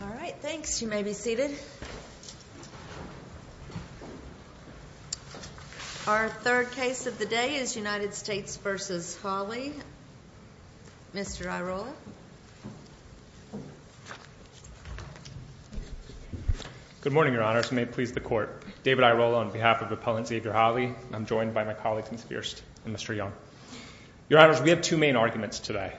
All right, thanks. You may be seated. Our third case of the day is United States v. Holley. Mr. Airola. Good morning, Your Honors. May it please the Court. David Airola on behalf of Appellant Xavier Holley. I'm joined by my colleagues Ms. Fierst and Mr. Young. Your Honors, we have two main arguments today.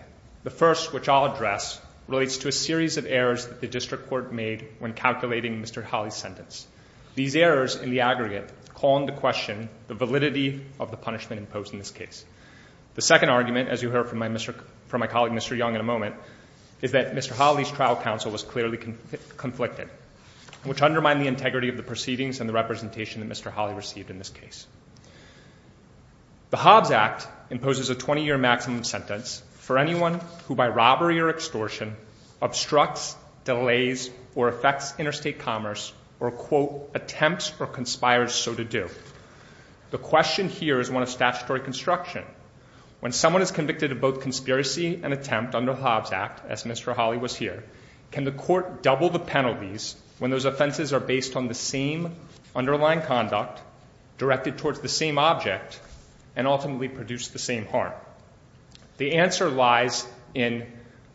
The first, which I'll address, relates to a series of errors that the District Court made when calculating Mr. Holley's sentence. These errors, in the aggregate, call into question the validity of the punishment imposed in this case. The second argument, as you heard from my colleague Mr. Young in a moment, is that Mr. Holley's trial counsel was clearly conflicted, which undermined the integrity of the proceedings and the representation that Mr. Holley received in this case. The Hobbs Act imposes a 20-year maximum sentence for anyone who, by robbery or extortion, obstructs, delays, or affects interstate commerce or, quote, attempts or conspires so to do. The question here is one of statutory construction. When someone is convicted of both conspiracy and attempt under the Hobbs Act, as Mr. Holley was here, can the court double the penalties when those offenses are based on the same underlying conduct, directed towards the same object, and ultimately produce the same harm? The answer lies in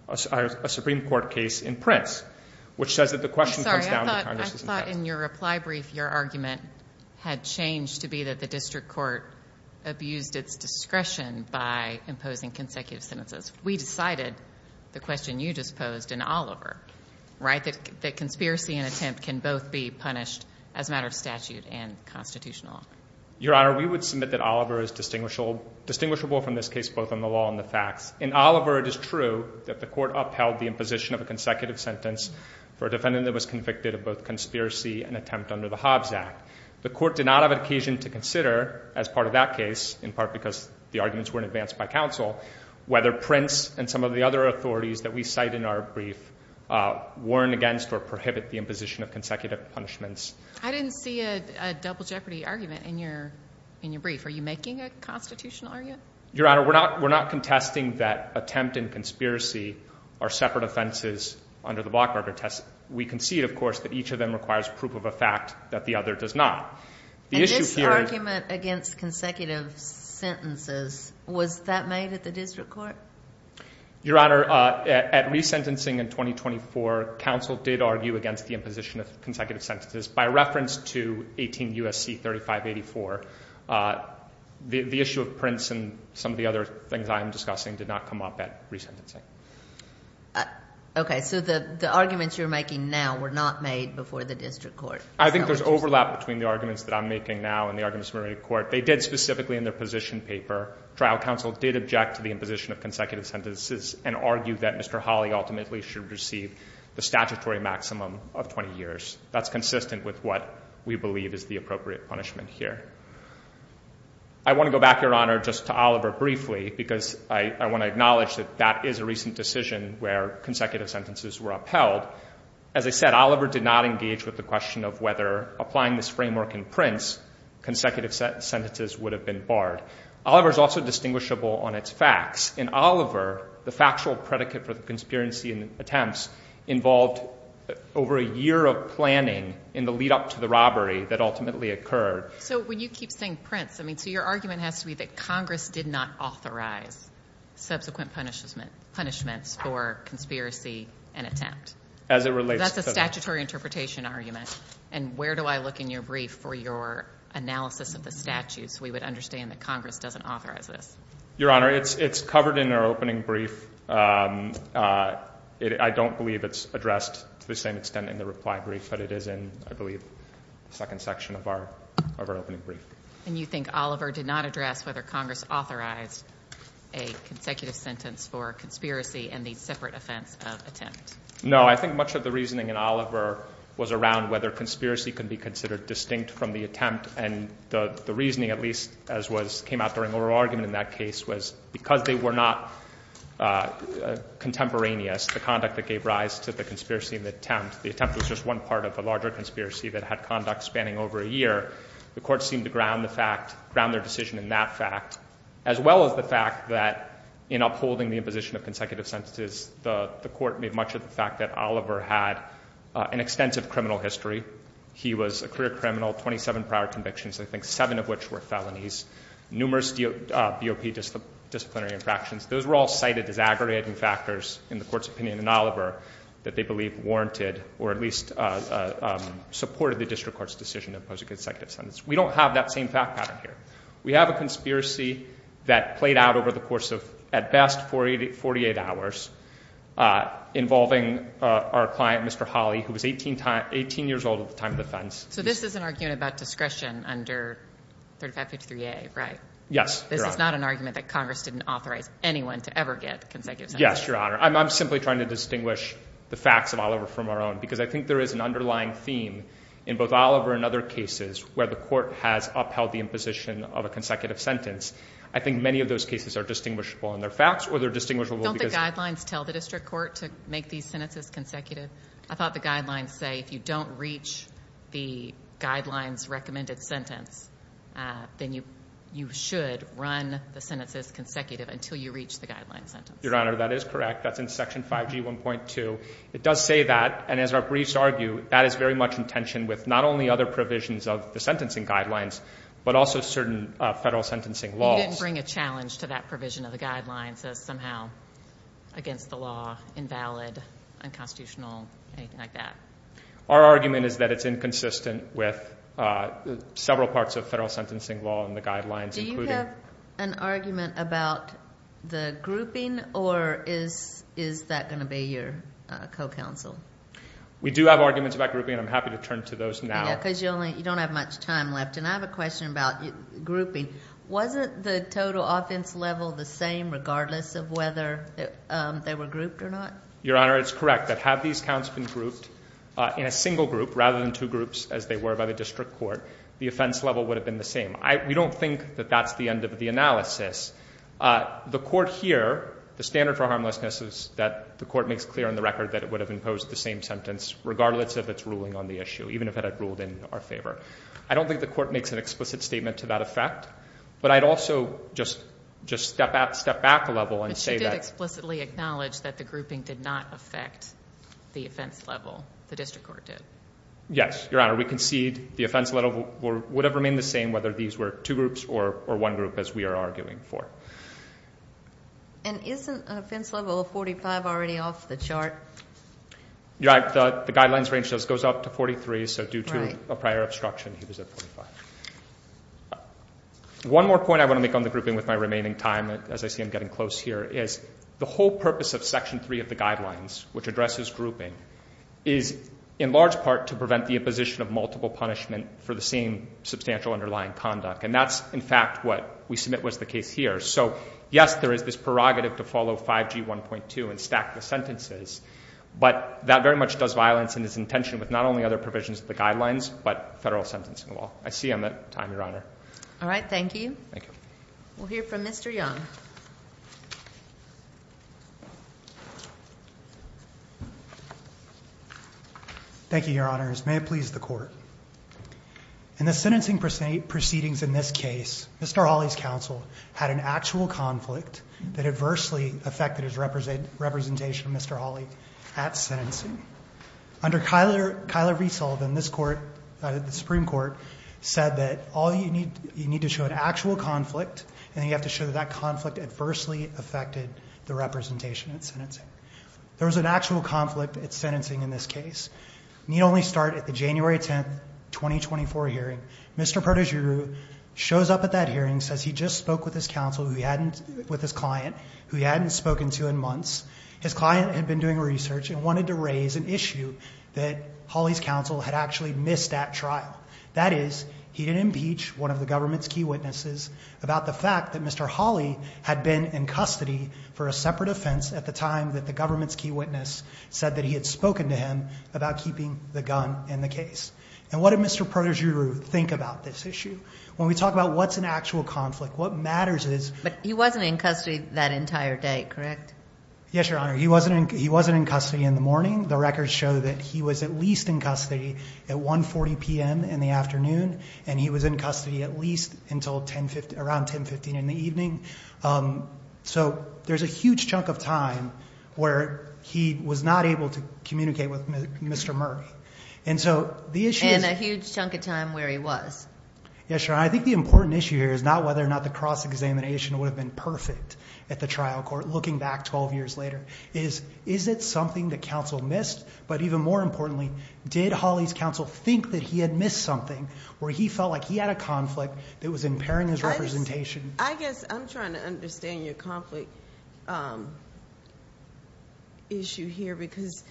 a Supreme Court case in Prince, which says that the question comes down to Congress's intent. I'm sorry, I thought in your reply brief your argument had changed to be that the District Court abused its discretion by imposing consecutive sentences. We decided, the question you just posed, in Oliver, right, that conspiracy and attempt can both be punished as a matter of statute and constitutional law. Your Honor, we would submit that Oliver is distinguishable from this case both on the law and the facts. In Oliver, it is true that the court upheld the imposition of a consecutive sentence for a defendant that was convicted of both conspiracy and attempt under the Hobbs Act. The court did not have an occasion to consider, as part of that case, in part because the arguments weren't advanced by counsel, whether Prince and some of the other authorities that we cite in our brief warn against or prohibit the imposition of consecutive punishments. I didn't see a double jeopardy argument in your brief. Are you making a constitutional argument? Your Honor, we're not contesting that attempt and conspiracy are separate offenses under the Bloch-Barber test. We concede, of course, that each of them requires proof of a fact that the other does not. And this argument against consecutive sentences, was that made at the district court? Your Honor, at resentencing in 2024, counsel did argue against the imposition of consecutive sentences by reference to 18 U.S.C. 3584. The issue of Prince and some of the other things I am discussing did not come up at resentencing. Okay, so the arguments you're making now were not made before the district court. I think there's overlap between the arguments that I'm making now and the arguments made in court. They did specifically in their position paper. Trial counsel did object to the imposition of consecutive sentences and argued that Mr. Hawley ultimately should receive the statutory maximum of 20 years. That's consistent with what we believe is the appropriate punishment here. I want to go back, Your Honor, just to Oliver briefly because I want to acknowledge that that is a recent decision where consecutive sentences were upheld. As I said, Oliver did not engage with the question of whether applying this framework in Prince, consecutive sentences would have been barred. Oliver is also distinguishable on its facts. In Oliver, the factual predicate for the conspiracy and attempts involved over a year of planning in the lead up to the robbery that ultimately occurred. So when you keep saying Prince, I mean, so your argument has to be that Congress did not authorize subsequent punishments for conspiracy and attempt. That's a statutory interpretation argument. And where do I look in your brief for your analysis of the statutes? We would understand that Congress doesn't authorize this. Your Honor, it's covered in our opening brief. I don't believe it's addressed to the same extent in the reply brief, but it is in, I believe, the second section of our opening brief. And you think Oliver did not address whether Congress authorized a consecutive sentence for conspiracy and the separate offense of attempt? No. I think much of the reasoning in Oliver was around whether conspiracy can be considered distinct from the attempt. And the reasoning, at least as came out during oral argument in that case, was because they were not contemporaneous, the conduct that gave rise to the conspiracy and the attempt, the attempt was just one part of the larger conspiracy that had conduct spanning over a year. The Court seemed to ground the fact, ground their decision in that fact, as well as the fact that in upholding the imposition of consecutive sentences, the Court made much of the fact that Oliver had an extensive criminal history. He was a career criminal, 27 prior convictions, I think seven of which were felonies, numerous BOP disciplinary infractions. Those were all cited as aggregating factors in the Court's opinion in Oliver that they believe warranted or at least supported the district court's decision to impose a consecutive sentence. We don't have that same fact pattern here. We have a conspiracy that played out over the course of, at best, 48 hours, involving our client, Mr. Holley, who was 18 years old at the time of the offense. So this is an argument about discretion under 3553A, right? Yes, Your Honor. This is not an argument that Congress didn't authorize anyone to ever get consecutive sentences. Yes, Your Honor. I'm simply trying to distinguish the facts of Oliver from our own because I think there is an underlying theme in both Oliver and other cases where the Court has upheld the imposition of a consecutive sentence. I think many of those cases are distinguishable in their facts or they're distinguishable because of their facts. Don't the guidelines tell the district court to make these sentences consecutive? I thought the guidelines say if you don't reach the guidelines recommended sentence, then you should run the sentences consecutive until you reach the guidelines sentence. Your Honor, that is correct. That's in Section 5G1.2. It does say that, and as our briefs argue, that is very much in tension with not only other provisions of the sentencing guidelines but also certain federal sentencing laws. You didn't bring a challenge to that provision of the guidelines as somehow against the law, invalid, unconstitutional, anything like that? Our argument is that it's inconsistent with several parts of federal sentencing law and the guidelines, including— Or is that going to be your co-counsel? We do have arguments about grouping, and I'm happy to turn to those now. Because you don't have much time left, and I have a question about grouping. Wasn't the total offense level the same regardless of whether they were grouped or not? Your Honor, it's correct that had these counts been grouped in a single group rather than two groups as they were by the district court, the offense level would have been the same. We don't think that that's the end of the analysis. The court here, the standard for harmlessness is that the court makes clear on the record that it would have imposed the same sentence regardless of its ruling on the issue, even if it had ruled in our favor. I don't think the court makes an explicit statement to that effect, but I'd also just step back a level and say that— But she did explicitly acknowledge that the grouping did not affect the offense level. The district court did. Yes, Your Honor. We concede the offense level would have remained the same whether these were two groups or one group as we are arguing for. And isn't an offense level of 45 already off the chart? The guidelines range goes up to 43, so due to a prior obstruction, he was at 45. One more point I want to make on the grouping with my remaining time, as I see I'm getting close here, is the whole purpose of Section 3 of the guidelines, which addresses grouping, is in large part to prevent the imposition of multiple punishment for the same substantial underlying conduct. And that's, in fact, what we submit was the case here. So, yes, there is this prerogative to follow 5G1.2 and stack the sentences, but that very much does violence in its intention with not only other provisions of the guidelines but federal sentencing law. I see I'm at time, Your Honor. All right. Thank you. Thank you. We'll hear from Mr. Young. Thank you, Your Honors. May it please the Court. In the sentencing proceedings in this case, Mr. Hawley's counsel had an actual conflict that adversely affected his representation, Mr. Hawley, at sentencing. Under Kyler Riesel, then this Court, the Supreme Court, said that you need to show an actual conflict and you have to show that that conflict adversely affected the representation at sentencing. There was an actual conflict at sentencing in this case. Need only start at the January 10th, 2024 hearing. Mr. Perdujirou shows up at that hearing, says he just spoke with his counsel who he hadn't, with his client, who he hadn't spoken to in months. His client had been doing research and wanted to raise an issue that Hawley's counsel had actually missed at trial. That is, he didn't impeach one of the government's key witnesses about the fact that Mr. Hawley had been in custody for a separate offense at the time that the government's key witness said that he had spoken to him about keeping the gun in the case. And what did Mr. Perdujirou think about this issue? When we talk about what's an actual conflict, what matters is... But he wasn't in custody that entire day, correct? Yes, Your Honor. He wasn't in custody in the morning. The records show that he was at least in custody at 1.40 p.m. in the afternoon and he was in custody at least until around 10.15 in the evening. So there's a huge chunk of time where he was not able to communicate with Mr. Murray. And so the issue is... And a huge chunk of time where he was. Yes, Your Honor. I think the important issue here is not whether or not the cross-examination would have been perfect at the trial court looking back 12 years later. Is it something that counsel missed? But even more importantly, did Hawley's counsel think that he had missed something where he felt like he had a conflict that was impairing his representation? I guess I'm trying to understand your conflict issue here because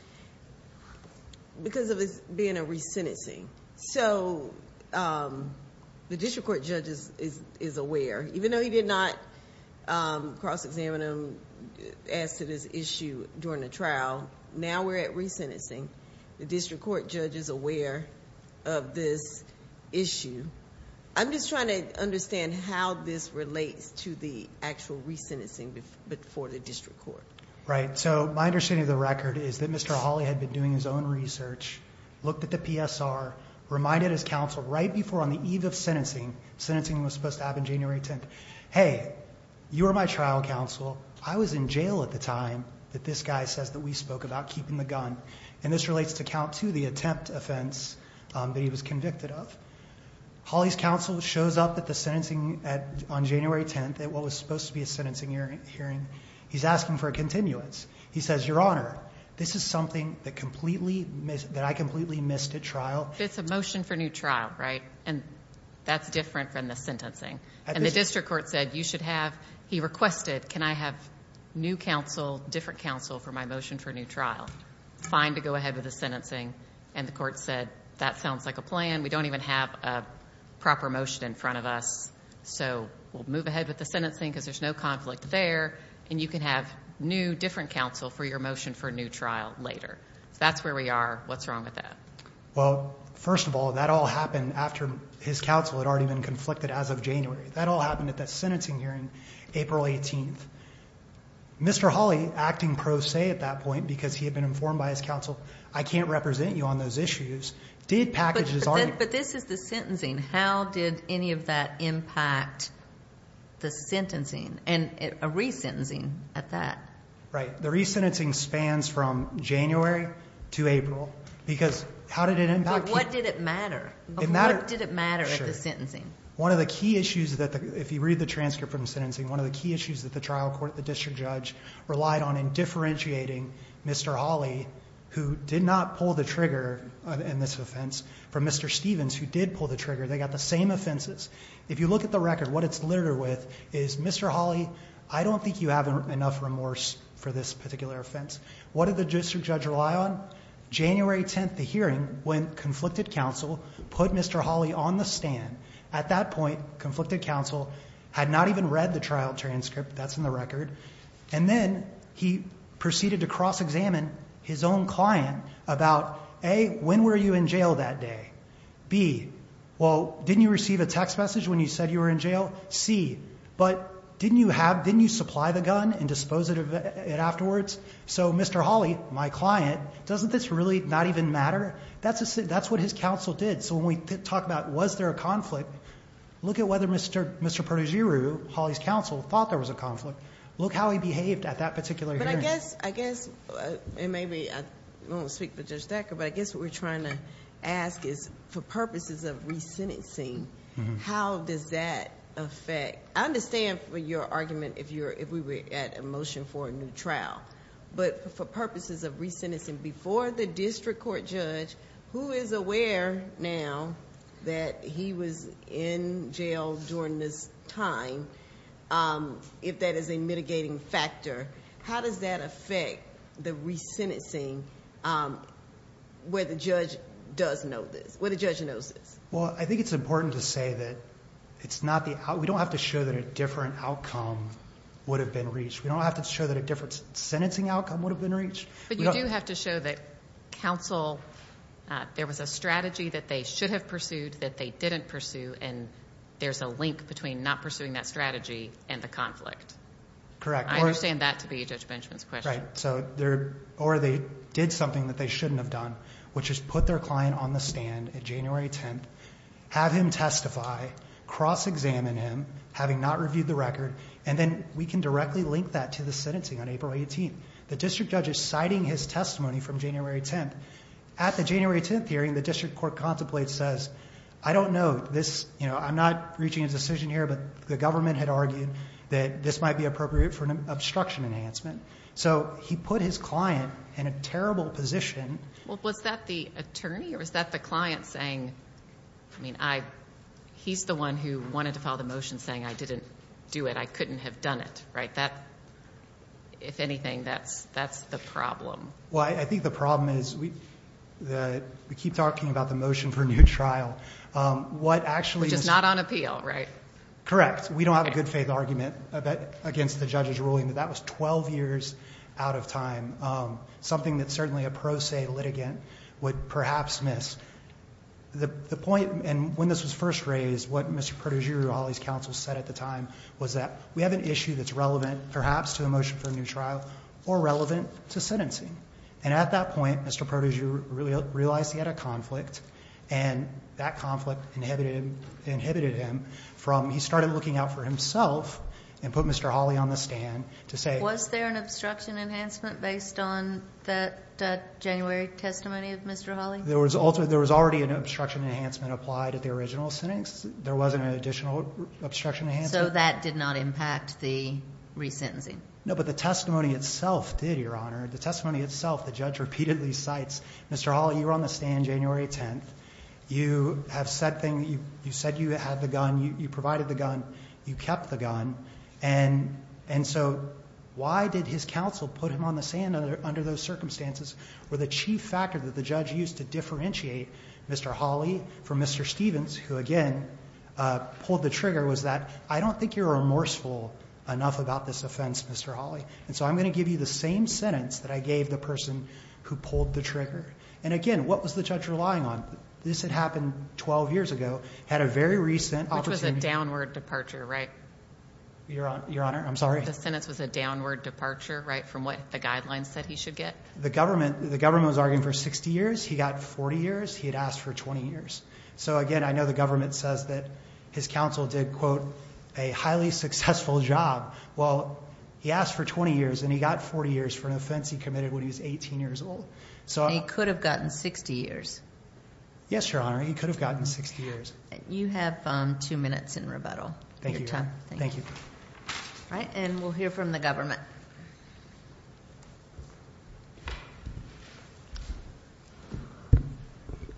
of it being a resentencing. So the district court judge is aware. Even though he did not cross-examine him as to this issue during the trial, now we're at resentencing. The district court judge is aware of this issue. I'm just trying to understand how this relates to the actual resentencing before the district court. Right. So my understanding of the record is that Mr. Hawley had been doing his own research, looked at the PSR, reminded his counsel right before on the eve of sentencing. Sentencing was supposed to happen January 10th. Hey, you were my trial counsel. I was in jail at the time that this guy says that we spoke about keeping the gun. And this relates to count two, the attempt offense that he was convicted of. Hawley's counsel shows up at the sentencing on January 10th at what was supposed to be a sentencing hearing. He's asking for a continuance. He says, Your Honor, this is something that I completely missed at trial. It's a motion for new trial, right? And that's different from the sentencing. And the district court said you should have, he requested, can I have new counsel, different counsel for my motion for new trial? Fine to go ahead with the sentencing. And the court said that sounds like a plan. We don't even have a proper motion in front of us. So we'll move ahead with the sentencing because there's no conflict there. And you can have new, different counsel for your motion for new trial later. So that's where we are. What's wrong with that? Well, first of all, that all happened after his counsel had already been conflicted as of January. That all happened at that sentencing hearing April 18th. Mr. Hawley, acting pro se at that point because he had been informed by his counsel, I can't represent you on those issues, did package his argument. But this is the sentencing. How did any of that impact the sentencing and a re-sentencing at that? Right. The re-sentencing spans from January to April because how did it impact? What did it matter? What did it matter at the sentencing? One of the key issues, if you read the transcript from the sentencing, one of the key issues that the trial court, the district judge, relied on in differentiating Mr. Hawley, who did not pull the trigger in this offense, from Mr. Stevens, who did pull the trigger. They got the same offenses. If you look at the record, what it's littered with is, Mr. Hawley, I don't think you have enough remorse for this particular offense. What did the district judge rely on? January 10th, the hearing, when conflicted counsel put Mr. Hawley on the stand. At that point, conflicted counsel had not even read the trial transcript. That's in the record. And then he proceeded to cross-examine his own client about, A, when were you in jail that day? B, well, didn't you receive a text message when you said you were in jail? C, but didn't you supply the gun and dispose of it afterwards? So Mr. Hawley, my client, doesn't this really not even matter? That's what his counsel did. So when we talk about was there a conflict, look at whether Mr. Perduzziro, Hawley's counsel, thought there was a conflict. Look how he behaved at that particular hearing. But I guess, I guess, and maybe I won't speak for Judge Thacker, but I guess what we're trying to ask is, for purposes of re-sentencing, how does that affect, I understand for your argument, if we were at a motion for a new trial. But for purposes of re-sentencing, before the district court judge, who is aware now that he was in jail during this time, if that is a mitigating factor, how does that affect the re-sentencing where the judge does know this, where the judge knows this? Well, I think it's important to say that it's not the outcome. We don't have to show that a different outcome would have been reached. We don't have to show that a different sentencing outcome would have been reached. But you do have to show that counsel, there was a strategy that they should have pursued that they didn't pursue, and there's a link between not pursuing that strategy and the conflict. Correct. I understand that to be Judge Benjamin's question. Right. Or they did something that they shouldn't have done, which is put their client on the stand on January 10th, have him testify, cross-examine him, having not reviewed the record, and then we can directly link that to the sentencing on April 18th. The district judge is citing his testimony from January 10th. At the January 10th hearing, the district court contemplates, says, I don't know this, you know, I'm not reaching a decision here, but the government had argued that this might be appropriate for an obstruction enhancement. So he put his client in a terrible position. Well, was that the attorney or was that the client saying, I mean, he's the one who wanted to file the motion saying I didn't do it, I couldn't have done it, right? If anything, that's the problem. Well, I think the problem is we keep talking about the motion for a new trial. Which is not on appeal, right? Correct. We don't have a good faith argument against the judge's ruling that that was 12 years out of time, something that certainly a pro se litigant would perhaps miss. The point, and when this was first raised, what Mr. Prodigy or Holly's counsel said at the time was that we have an issue that's relevant, perhaps to a motion for a new trial or relevant to sentencing. And at that point, Mr. Prodigy realized he had a conflict, and that conflict inhibited him from, he started looking out for himself and put Mr. Holly on the stand to say. Was there an obstruction enhancement based on that January testimony of Mr. Holly? There was already an obstruction enhancement applied at the original sentence. There wasn't an additional obstruction enhancement. So that did not impact the re-sentencing? No, but the testimony itself did, Your Honor. The testimony itself, the judge repeatedly cites, Mr. Holly, you were on the stand January 10th. You said you had the gun, you provided the gun, you kept the gun. And so why did his counsel put him on the stand under those circumstances? Well, the chief factor that the judge used to differentiate Mr. Holly from Mr. Stevens, who again pulled the trigger, was that I don't think you're remorseful enough about this offense, Mr. Holly. And so I'm going to give you the same sentence that I gave the person who pulled the trigger. And again, what was the judge relying on? This had happened 12 years ago, had a very recent opportunity. Which was a downward departure, right? Your Honor, I'm sorry? The sentence was a downward departure, right, from what the guidelines said he should get? The government was arguing for 60 years, he got 40 years, he had asked for 20 years. So again, I know the government says that his counsel did, quote, a highly successful job. Well, he asked for 20 years and he got 40 years for an offense he committed when he was 18 years old. He could have gotten 60 years. Yes, Your Honor, he could have gotten 60 years. You have two minutes in rebuttal. Thank you, Your Honor. Thank you. All right, and we'll hear from the government.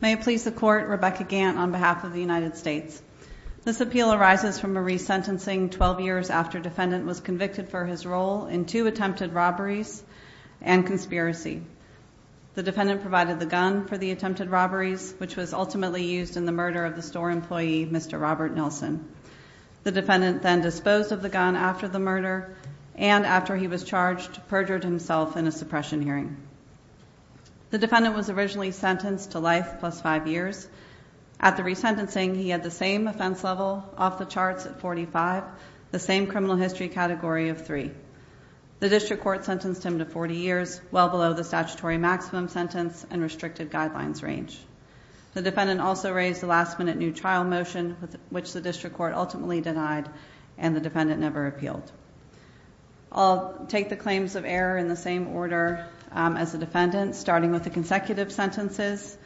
May it please the Court, Rebecca Gant on behalf of the United States. This appeal arises from a resentencing 12 years after defendant was convicted for his role in two attempted robberies and conspiracy. The defendant provided the gun for the attempted robberies, which was ultimately used in the murder of the store employee, Mr. Robert Nelson. The defendant then disposed of the gun after the murder, and after he was charged, perjured himself in a suppression hearing. The defendant was originally sentenced to life plus five years. At the resentencing, he had the same offense level off the charts at 45, the same criminal history category of three. The district court sentenced him to 40 years, well below the statutory maximum sentence and restricted guidelines range. The defendant also raised the last minute new trial motion, which the district court ultimately denied, and the defendant never appealed. I'll take the claims of error in the same order as the defendant, starting with the consecutive sentences.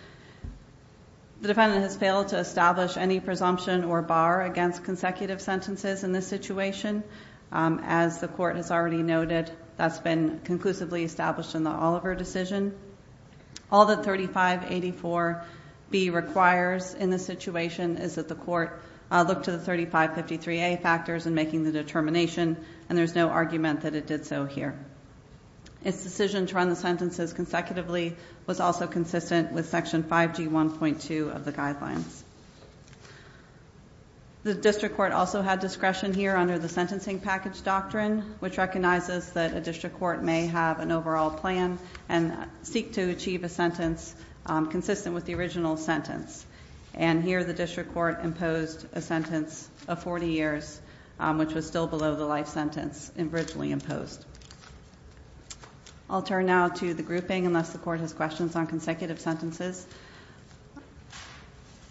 The defendant has failed to establish any presumption or bar against consecutive sentences in this situation. As the court has already noted, that's been conclusively established in the Oliver decision. All that 3584B requires in this situation is that the court look to the 3553A factors in making the determination. And there's no argument that it did so here. Its decision to run the sentences consecutively was also consistent with section 5G1.2 of the guidelines. The district court also had discretion here under the sentencing package doctrine, which recognizes that a district court may have an overall plan and seek to achieve a sentence consistent with the original sentence. And here the district court imposed a sentence of 40 years, which was still below the life sentence originally imposed. I'll turn now to the grouping, unless the court has questions on consecutive sentences.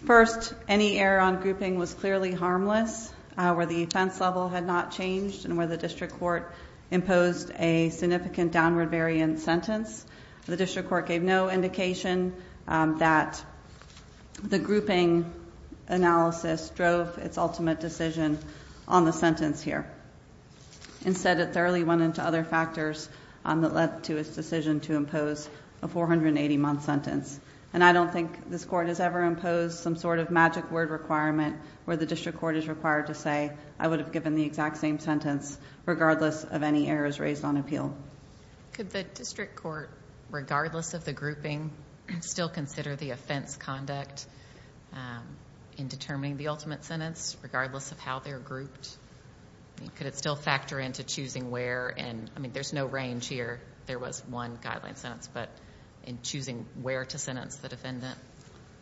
First, any error on grouping was clearly harmless where the offense level had not changed and where the district court imposed a significant downward variant sentence. The district court gave no indication that the grouping analysis drove its ultimate decision on the sentence here. Instead it thoroughly went into other factors that led to its decision to impose a 480 month sentence. And I don't think this court has ever imposed some sort of magic word requirement where the district court is required to say, I would have given the exact same sentence regardless of any errors raised on appeal. Could the district court, regardless of the grouping, still consider the offense conduct in determining the ultimate sentence, regardless of how they're grouped? Could it still factor into choosing where? I mean, there's no range here. There was one guideline sentence, but in choosing where to sentence the defendant.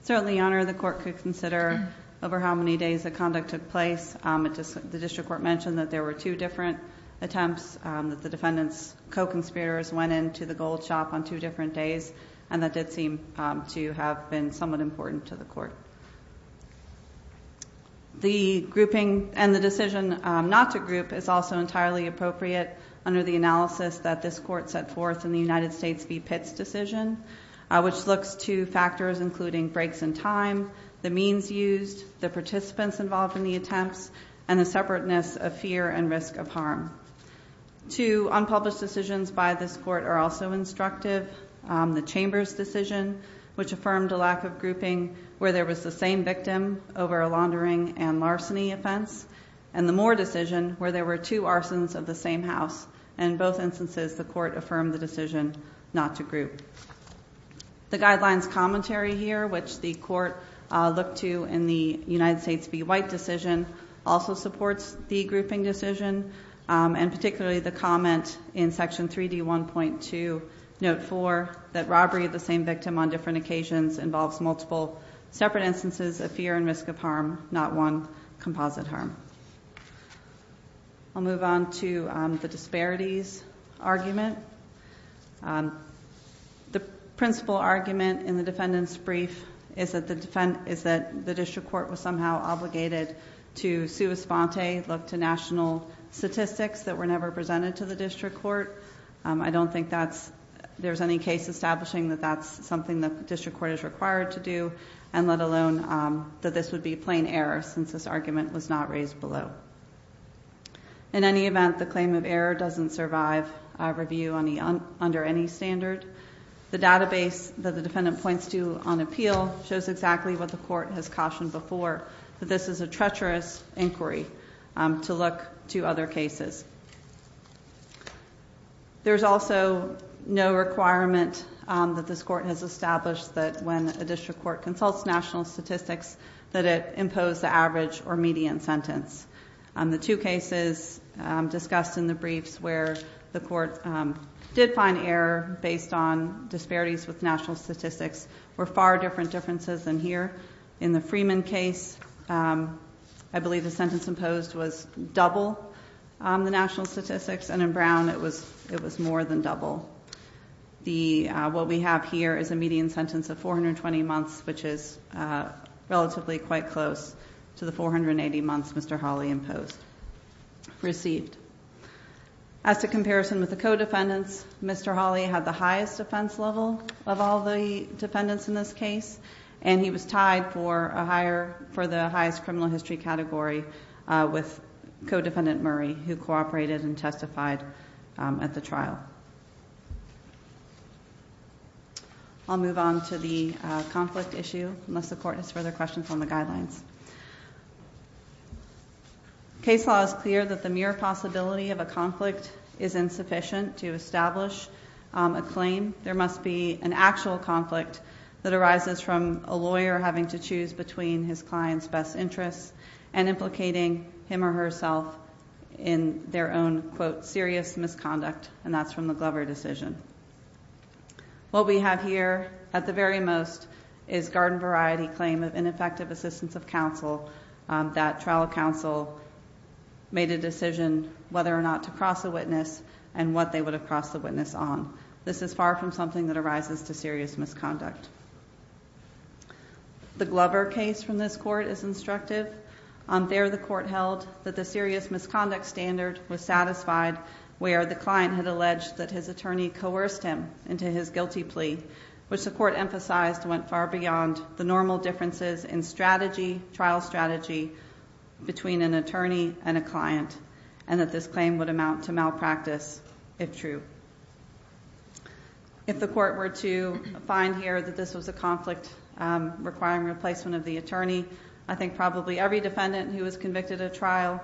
Certainly, Your Honor, the court could consider over how many days the conduct took place. The district court mentioned that there were two different attempts, that the defendant's co-conspirators went into the gold shop on two different days, and that did seem to have been somewhat important to the court. The grouping and the decision not to group is also entirely appropriate under the analysis that this court set forth in the United States v. Pitts decision, which looks to factors including breaks in time, the means used, the participants involved in the attempts, and the separateness of fear and risk of harm. Two unpublished decisions by this court are also instructive. The Chambers decision, which affirmed a lack of grouping where there was the same victim over a laundering and larceny offense, and the Moore decision where there were two arsons of the same house. In both instances, the court affirmed the decision not to group. The guidelines commentary here, which the court looked to in the United States v. White decision, also supports the grouping decision, and particularly the comment in section 3D1.2, note 4, that robbery of the same victim on different occasions involves multiple separate instances of fear and risk of harm, not one composite harm. I'll move on to the disparities argument. The principal argument in the defendant's brief is that the district court was somehow obligated to sui sponte, look to national statistics that were never presented to the district court. I don't think there's any case establishing that that's something the district court is required to do, and let alone that this would be plain error since this argument was not raised below. In any event, the claim of error doesn't survive review under any standard. The database that the defendant points to on appeal shows exactly what the court has cautioned before, that this is a treacherous inquiry to look to other cases. There's also no requirement that this court has established that when a district court consults national statistics, that it impose the average or median sentence. The two cases discussed in the briefs where the court did find error based on disparities with national statistics were far different differences than here. In the Freeman case, I believe the sentence imposed was double the national statistics, and in Brown it was more than double. What we have here is a median sentence of 420 months, which is relatively quite close to the 480 months Mr. Hawley received. As a comparison with the co-defendants, Mr. Hawley had the highest defense level of all the defendants in this case, and he was tied for the highest criminal history category with co-defendant Murray, who cooperated and testified at the trial. I'll move on to the conflict issue, unless the court has further questions on the guidelines. Case law is clear that the mere possibility of a conflict is insufficient to establish a claim. There must be an actual conflict that arises from a lawyer having to choose between his client's best interests and implicating him or herself in their own, quote, serious misconduct, and that's from the Glover decision. What we have here, at the very most, is garden variety claim of ineffective assistance of counsel that trial counsel made a decision whether or not to cross a witness and what they would have crossed the witness on. This is far from something that arises to serious misconduct. The Glover case from this court is instructive. There the court held that the serious misconduct standard was satisfied where the client had alleged that his attorney coerced him into his guilty plea, which the court emphasized went far beyond the normal differences in strategy, trial strategy, between an attorney and a client, and that this claim would amount to malpractice if true. If the court were to find here that this was a conflict requiring replacement of the attorney, I think probably every defendant who was convicted of trial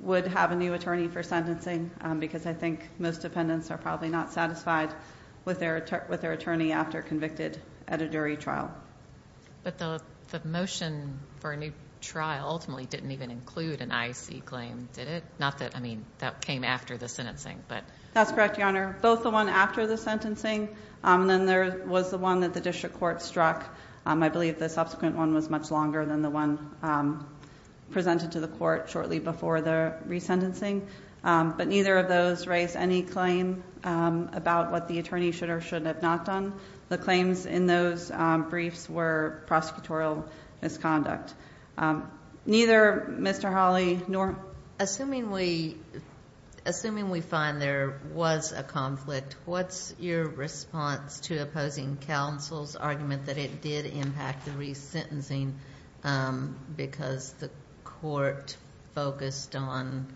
would have a new attorney for sentencing because I think most defendants are probably not satisfied with their attorney after convicted at a jury trial. But the motion for a new trial ultimately didn't even include an IEC claim, did it? Not that, I mean, that came after the sentencing, but. That's correct, Your Honor. Both the one after the sentencing and then there was the one that the district court struck. I believe the subsequent one was much longer than the one presented to the court shortly before the resentencing. But neither of those raised any claim about what the attorney should or should have not done. The claims in those briefs were prosecutorial misconduct. Neither Mr. Hawley nor- Assuming we find there was a conflict, what's your response to opposing counsel's argument that it did impact the resentencing because the court focused on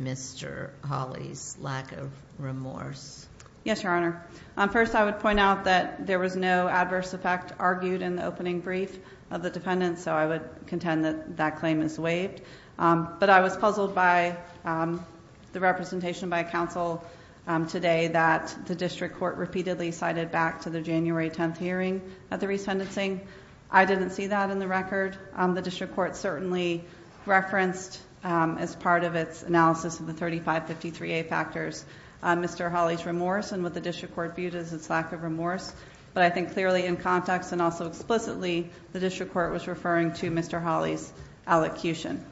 Mr. Hawley's lack of remorse? Yes, Your Honor. First, I would point out that there was no adverse effect argued in the opening brief of the defendant, so I would contend that that claim is waived. But I was puzzled by the representation by counsel today that the district court repeatedly cited back to the January 10th hearing at the resentencing. I didn't see that in the record. The district court certainly referenced, as part of its analysis of the 3553A factors, Mr. Hawley's remorse and what the district court viewed as its lack of remorse. But I think clearly in context and also explicitly, the district court was referring to Mr. Hawley's allocution.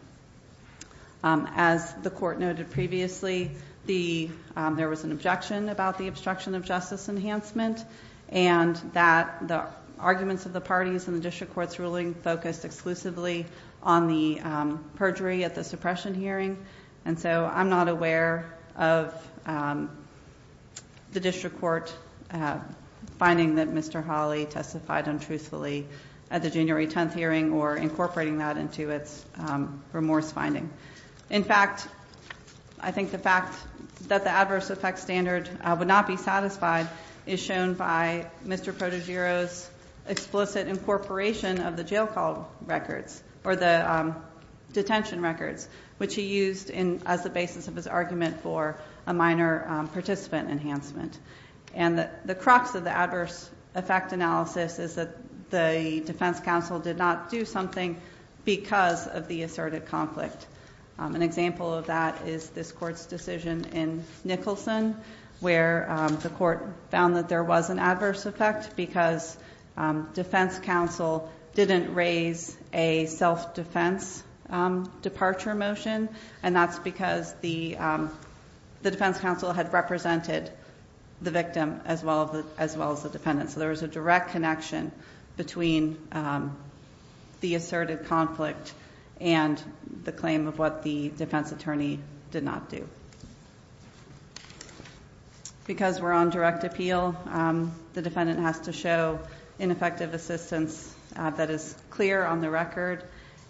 As the court noted previously, there was an objection about the obstruction of justice enhancement and that the arguments of the parties in the district court's ruling focused exclusively on the perjury at the suppression hearing. And so I'm not aware of the district court finding that Mr. Hawley testified untruthfully at the January 10th hearing or incorporating that into its remorse finding. In fact, I think the fact that the adverse effect standard would not be satisfied is shown by Mr. Prodigero's explicit incorporation of the jail call records or the detention records, which he used as the basis of his argument for a minor participant enhancement. And the crux of the adverse effect analysis is that the defense counsel did not do something because of the asserted conflict. An example of that is this court's decision in Nicholson where the court found that there was an adverse effect because defense counsel didn't raise a self-defense departure motion. And that's because the defense counsel had represented the victim as well as the defendant. So there was a direct connection between the asserted conflict and the claim of what the defense attorney did not do. Because we're on direct appeal, the defendant has to show ineffective assistance that is clear on the record.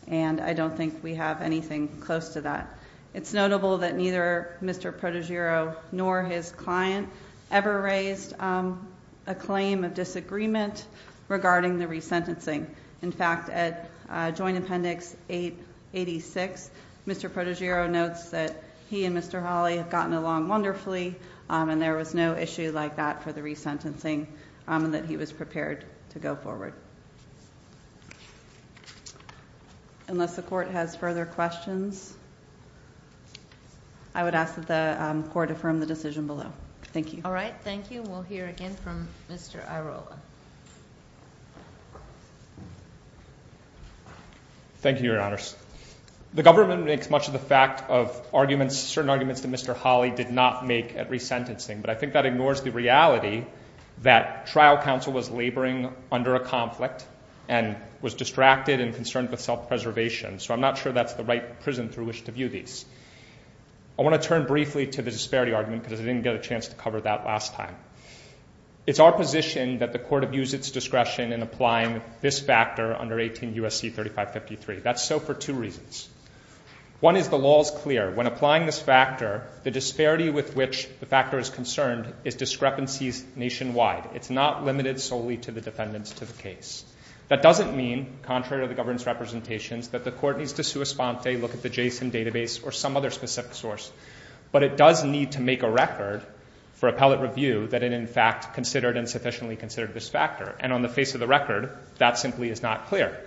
And I don't think we have anything close to that. It's notable that neither Mr. Prodigero nor his client ever raised a claim of disagreement regarding the resentencing. In fact, at joint appendix 886, Mr. Prodigero notes that he and Mr. Hawley have gotten along wonderfully, and there was no issue like that for the resentencing and that he was prepared to go forward. Unless the court has further questions, I would ask that the court affirm the decision below. Thank you. All right, thank you. We'll hear again from Mr. Irola. Thank you, Your Honors. The government makes much of the fact of arguments, certain arguments that Mr. Hawley did not make at resentencing, but I think that ignores the reality that trial counsel was laboring under a conflict and was distracted and concerned with self-preservation. So I'm not sure that's the right prison through which to view these. I want to turn briefly to the disparity argument because I didn't get a chance to cover that last time. It's our position that the court abuse its discretion in applying this factor under 18 U.S.C. 3553. That's so for two reasons. One is the law is clear. When applying this factor, the disparity with which the factor is concerned is discrepancies nationwide. It's not limited solely to the defendants to the case. That doesn't mean, contrary to the government's representations, that the court needs to sua sponte, look at the JSON database, or some other specific source. But it does need to make a record for appellate review that it, in fact, considered and sufficiently considered this factor. And on the face of the record, that simply is not clear.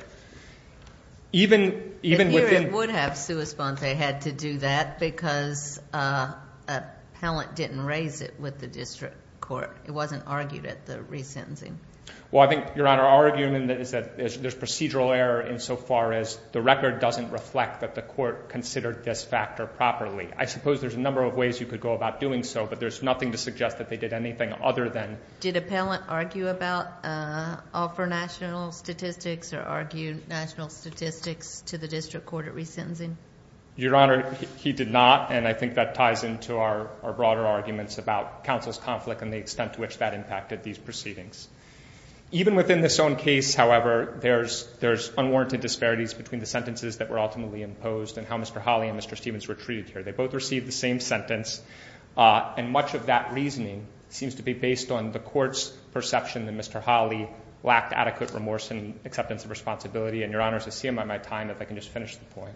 Even within- It would have sua sponte had to do that because appellant didn't raise it with the district court. It wasn't argued at the resentencing. Well, I think, Your Honor, our argument is that there's procedural error insofar as the record doesn't reflect that the court considered this factor properly. I suppose there's a number of ways you could go about doing so, but there's nothing to suggest that they did anything other than- Did appellant argue about or for national statistics or argue national statistics to the district court at resentencing? Your Honor, he did not, and I think that ties into our broader arguments about and the extent to which that impacted these proceedings. Even within this own case, however, there's unwarranted disparities between the sentences that were ultimately imposed and how Mr. Hawley and Mr. Stevens were treated here. They both received the same sentence, and much of that reasoning seems to be based on the court's perception that Mr. Hawley lacked adequate remorse and acceptance of responsibility. And, Your Honor, it's a shame on my time if I can just finish the point.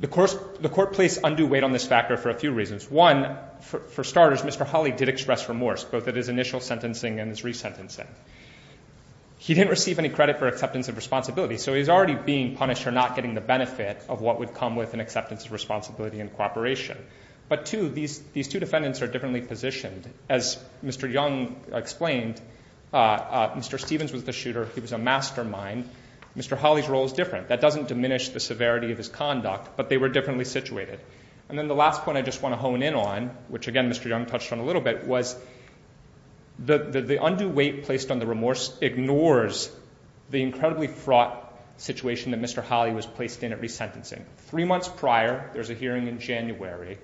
The court placed undue weight on this factor for a few reasons. One, for starters, Mr. Hawley did express remorse, both at his initial sentencing and his resentencing. He didn't receive any credit for acceptance of responsibility, so he's already being punished for not getting the benefit of what would come with an acceptance of responsibility and cooperation. But, two, these two defendants are differently positioned. As Mr. Young explained, Mr. Stevens was the shooter, he was a mastermind. Mr. Hawley's role is different. That doesn't diminish the severity of his conduct, but they were differently situated. And then the last point I just want to hone in on, which, again, Mr. Young touched on a little bit, was the undue weight placed on the remorse ignores the incredibly fraught situation that Mr. Hawley was placed in at resentencing. Three months prior, there's a hearing in January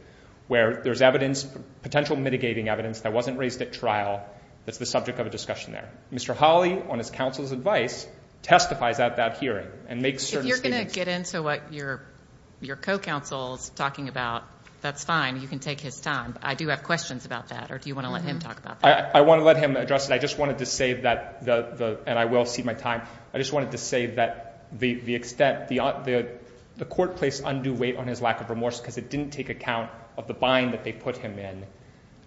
where there's evidence, potential mitigating evidence, that wasn't raised at trial that's the subject of a discussion there. Mr. Hawley, on his counsel's advice, testifies at that hearing and makes certain statements. And then, so what your co-counsel's talking about, that's fine, you can take his time. I do have questions about that. Or do you want to let him talk about that? I want to let him address it. I just wanted to say that, and I will cede my time, I just wanted to say that the extent, the court placed undue weight on his lack of remorse because it didn't take account of the bind that they put him in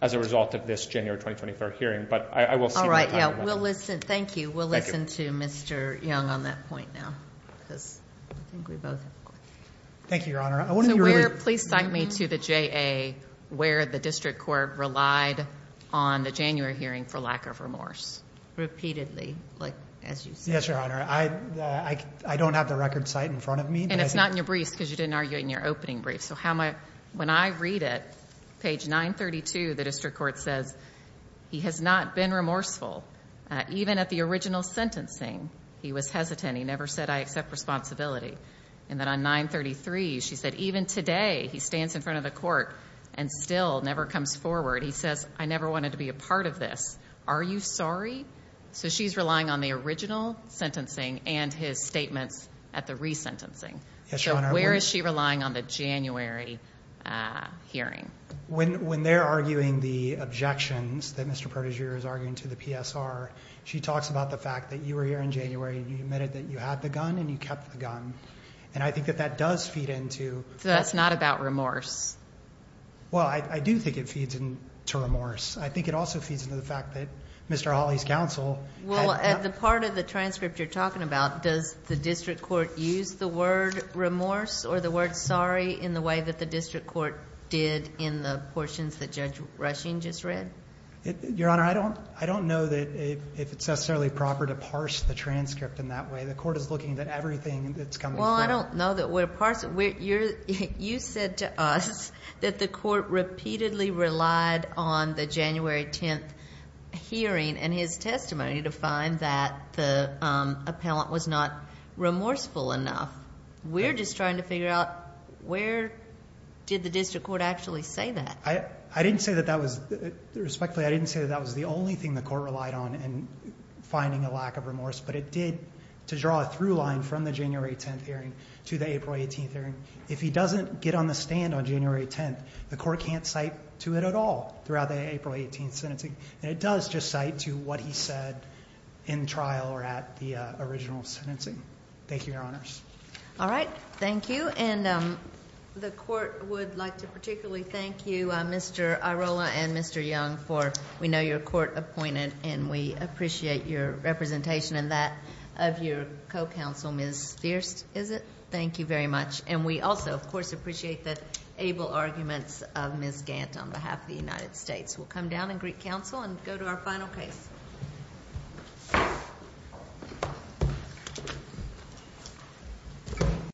as a result of this January 23rd hearing. But I will cede my time. All right. Thank you. We'll listen to Mr. Young on that point now. Because I think we both have questions. Thank you, Your Honor. So where, please cite me to the JA, where the district court relied on the January hearing for lack of remorse. Repeatedly, like as you said. Yes, Your Honor. I don't have the record cite in front of me. And it's not in your briefs because you didn't argue it in your opening brief. So how am I, when I read it, page 932, the district court says, he has not been remorseful. Even at the original sentencing, he was hesitant. He never said, I accept responsibility. And then on 933, she said, even today, he stands in front of the court and still never comes forward. He says, I never wanted to be a part of this. Are you sorry? So she's relying on the original sentencing and his statements at the resentencing. Yes, Your Honor. So where is she relying on the January hearing? When they're arguing the objections that Mr. Protiger is arguing to the PSR, she talks about the fact that you were here in January and you admitted that you had the gun and you kept the gun. And I think that that does feed into. So that's not about remorse. Well, I do think it feeds into remorse. I think it also feeds into the fact that Mr. Hawley's counsel. Well, at the part of the transcript you're talking about, does the district court use the word remorse or the word sorry in the way that the district court did in the portions that Judge Rushing just read? Your Honor, I don't know if it's necessarily proper to parse the transcript in that way. The court is looking at everything that's coming forward. Well, I don't know that we're parsing. You said to us that the court repeatedly relied on the January 10th hearing and his testimony to find that the appellant was not remorseful enough. We're just trying to figure out where did the district court actually say that? I didn't say that that was the only thing the court relied on in finding a lack of remorse, but it did to draw a through line from the January 10th hearing to the April 18th hearing. If he doesn't get on the stand on January 10th, the court can't cite to it at all throughout the April 18th sentencing. And it does just cite to what he said in trial or at the original sentencing. Thank you, Your Honors. All right. Thank you. And the court would like to particularly thank you, Mr. Irola and Mr. Young, for we know you're court appointed and we appreciate your representation and that of your co-counsel, Ms. Fierst, is it? Thank you very much. And we also, of course, appreciate the able arguments of Ms. Gant on behalf of the United States. We'll come down and greet counsel and go to our final case.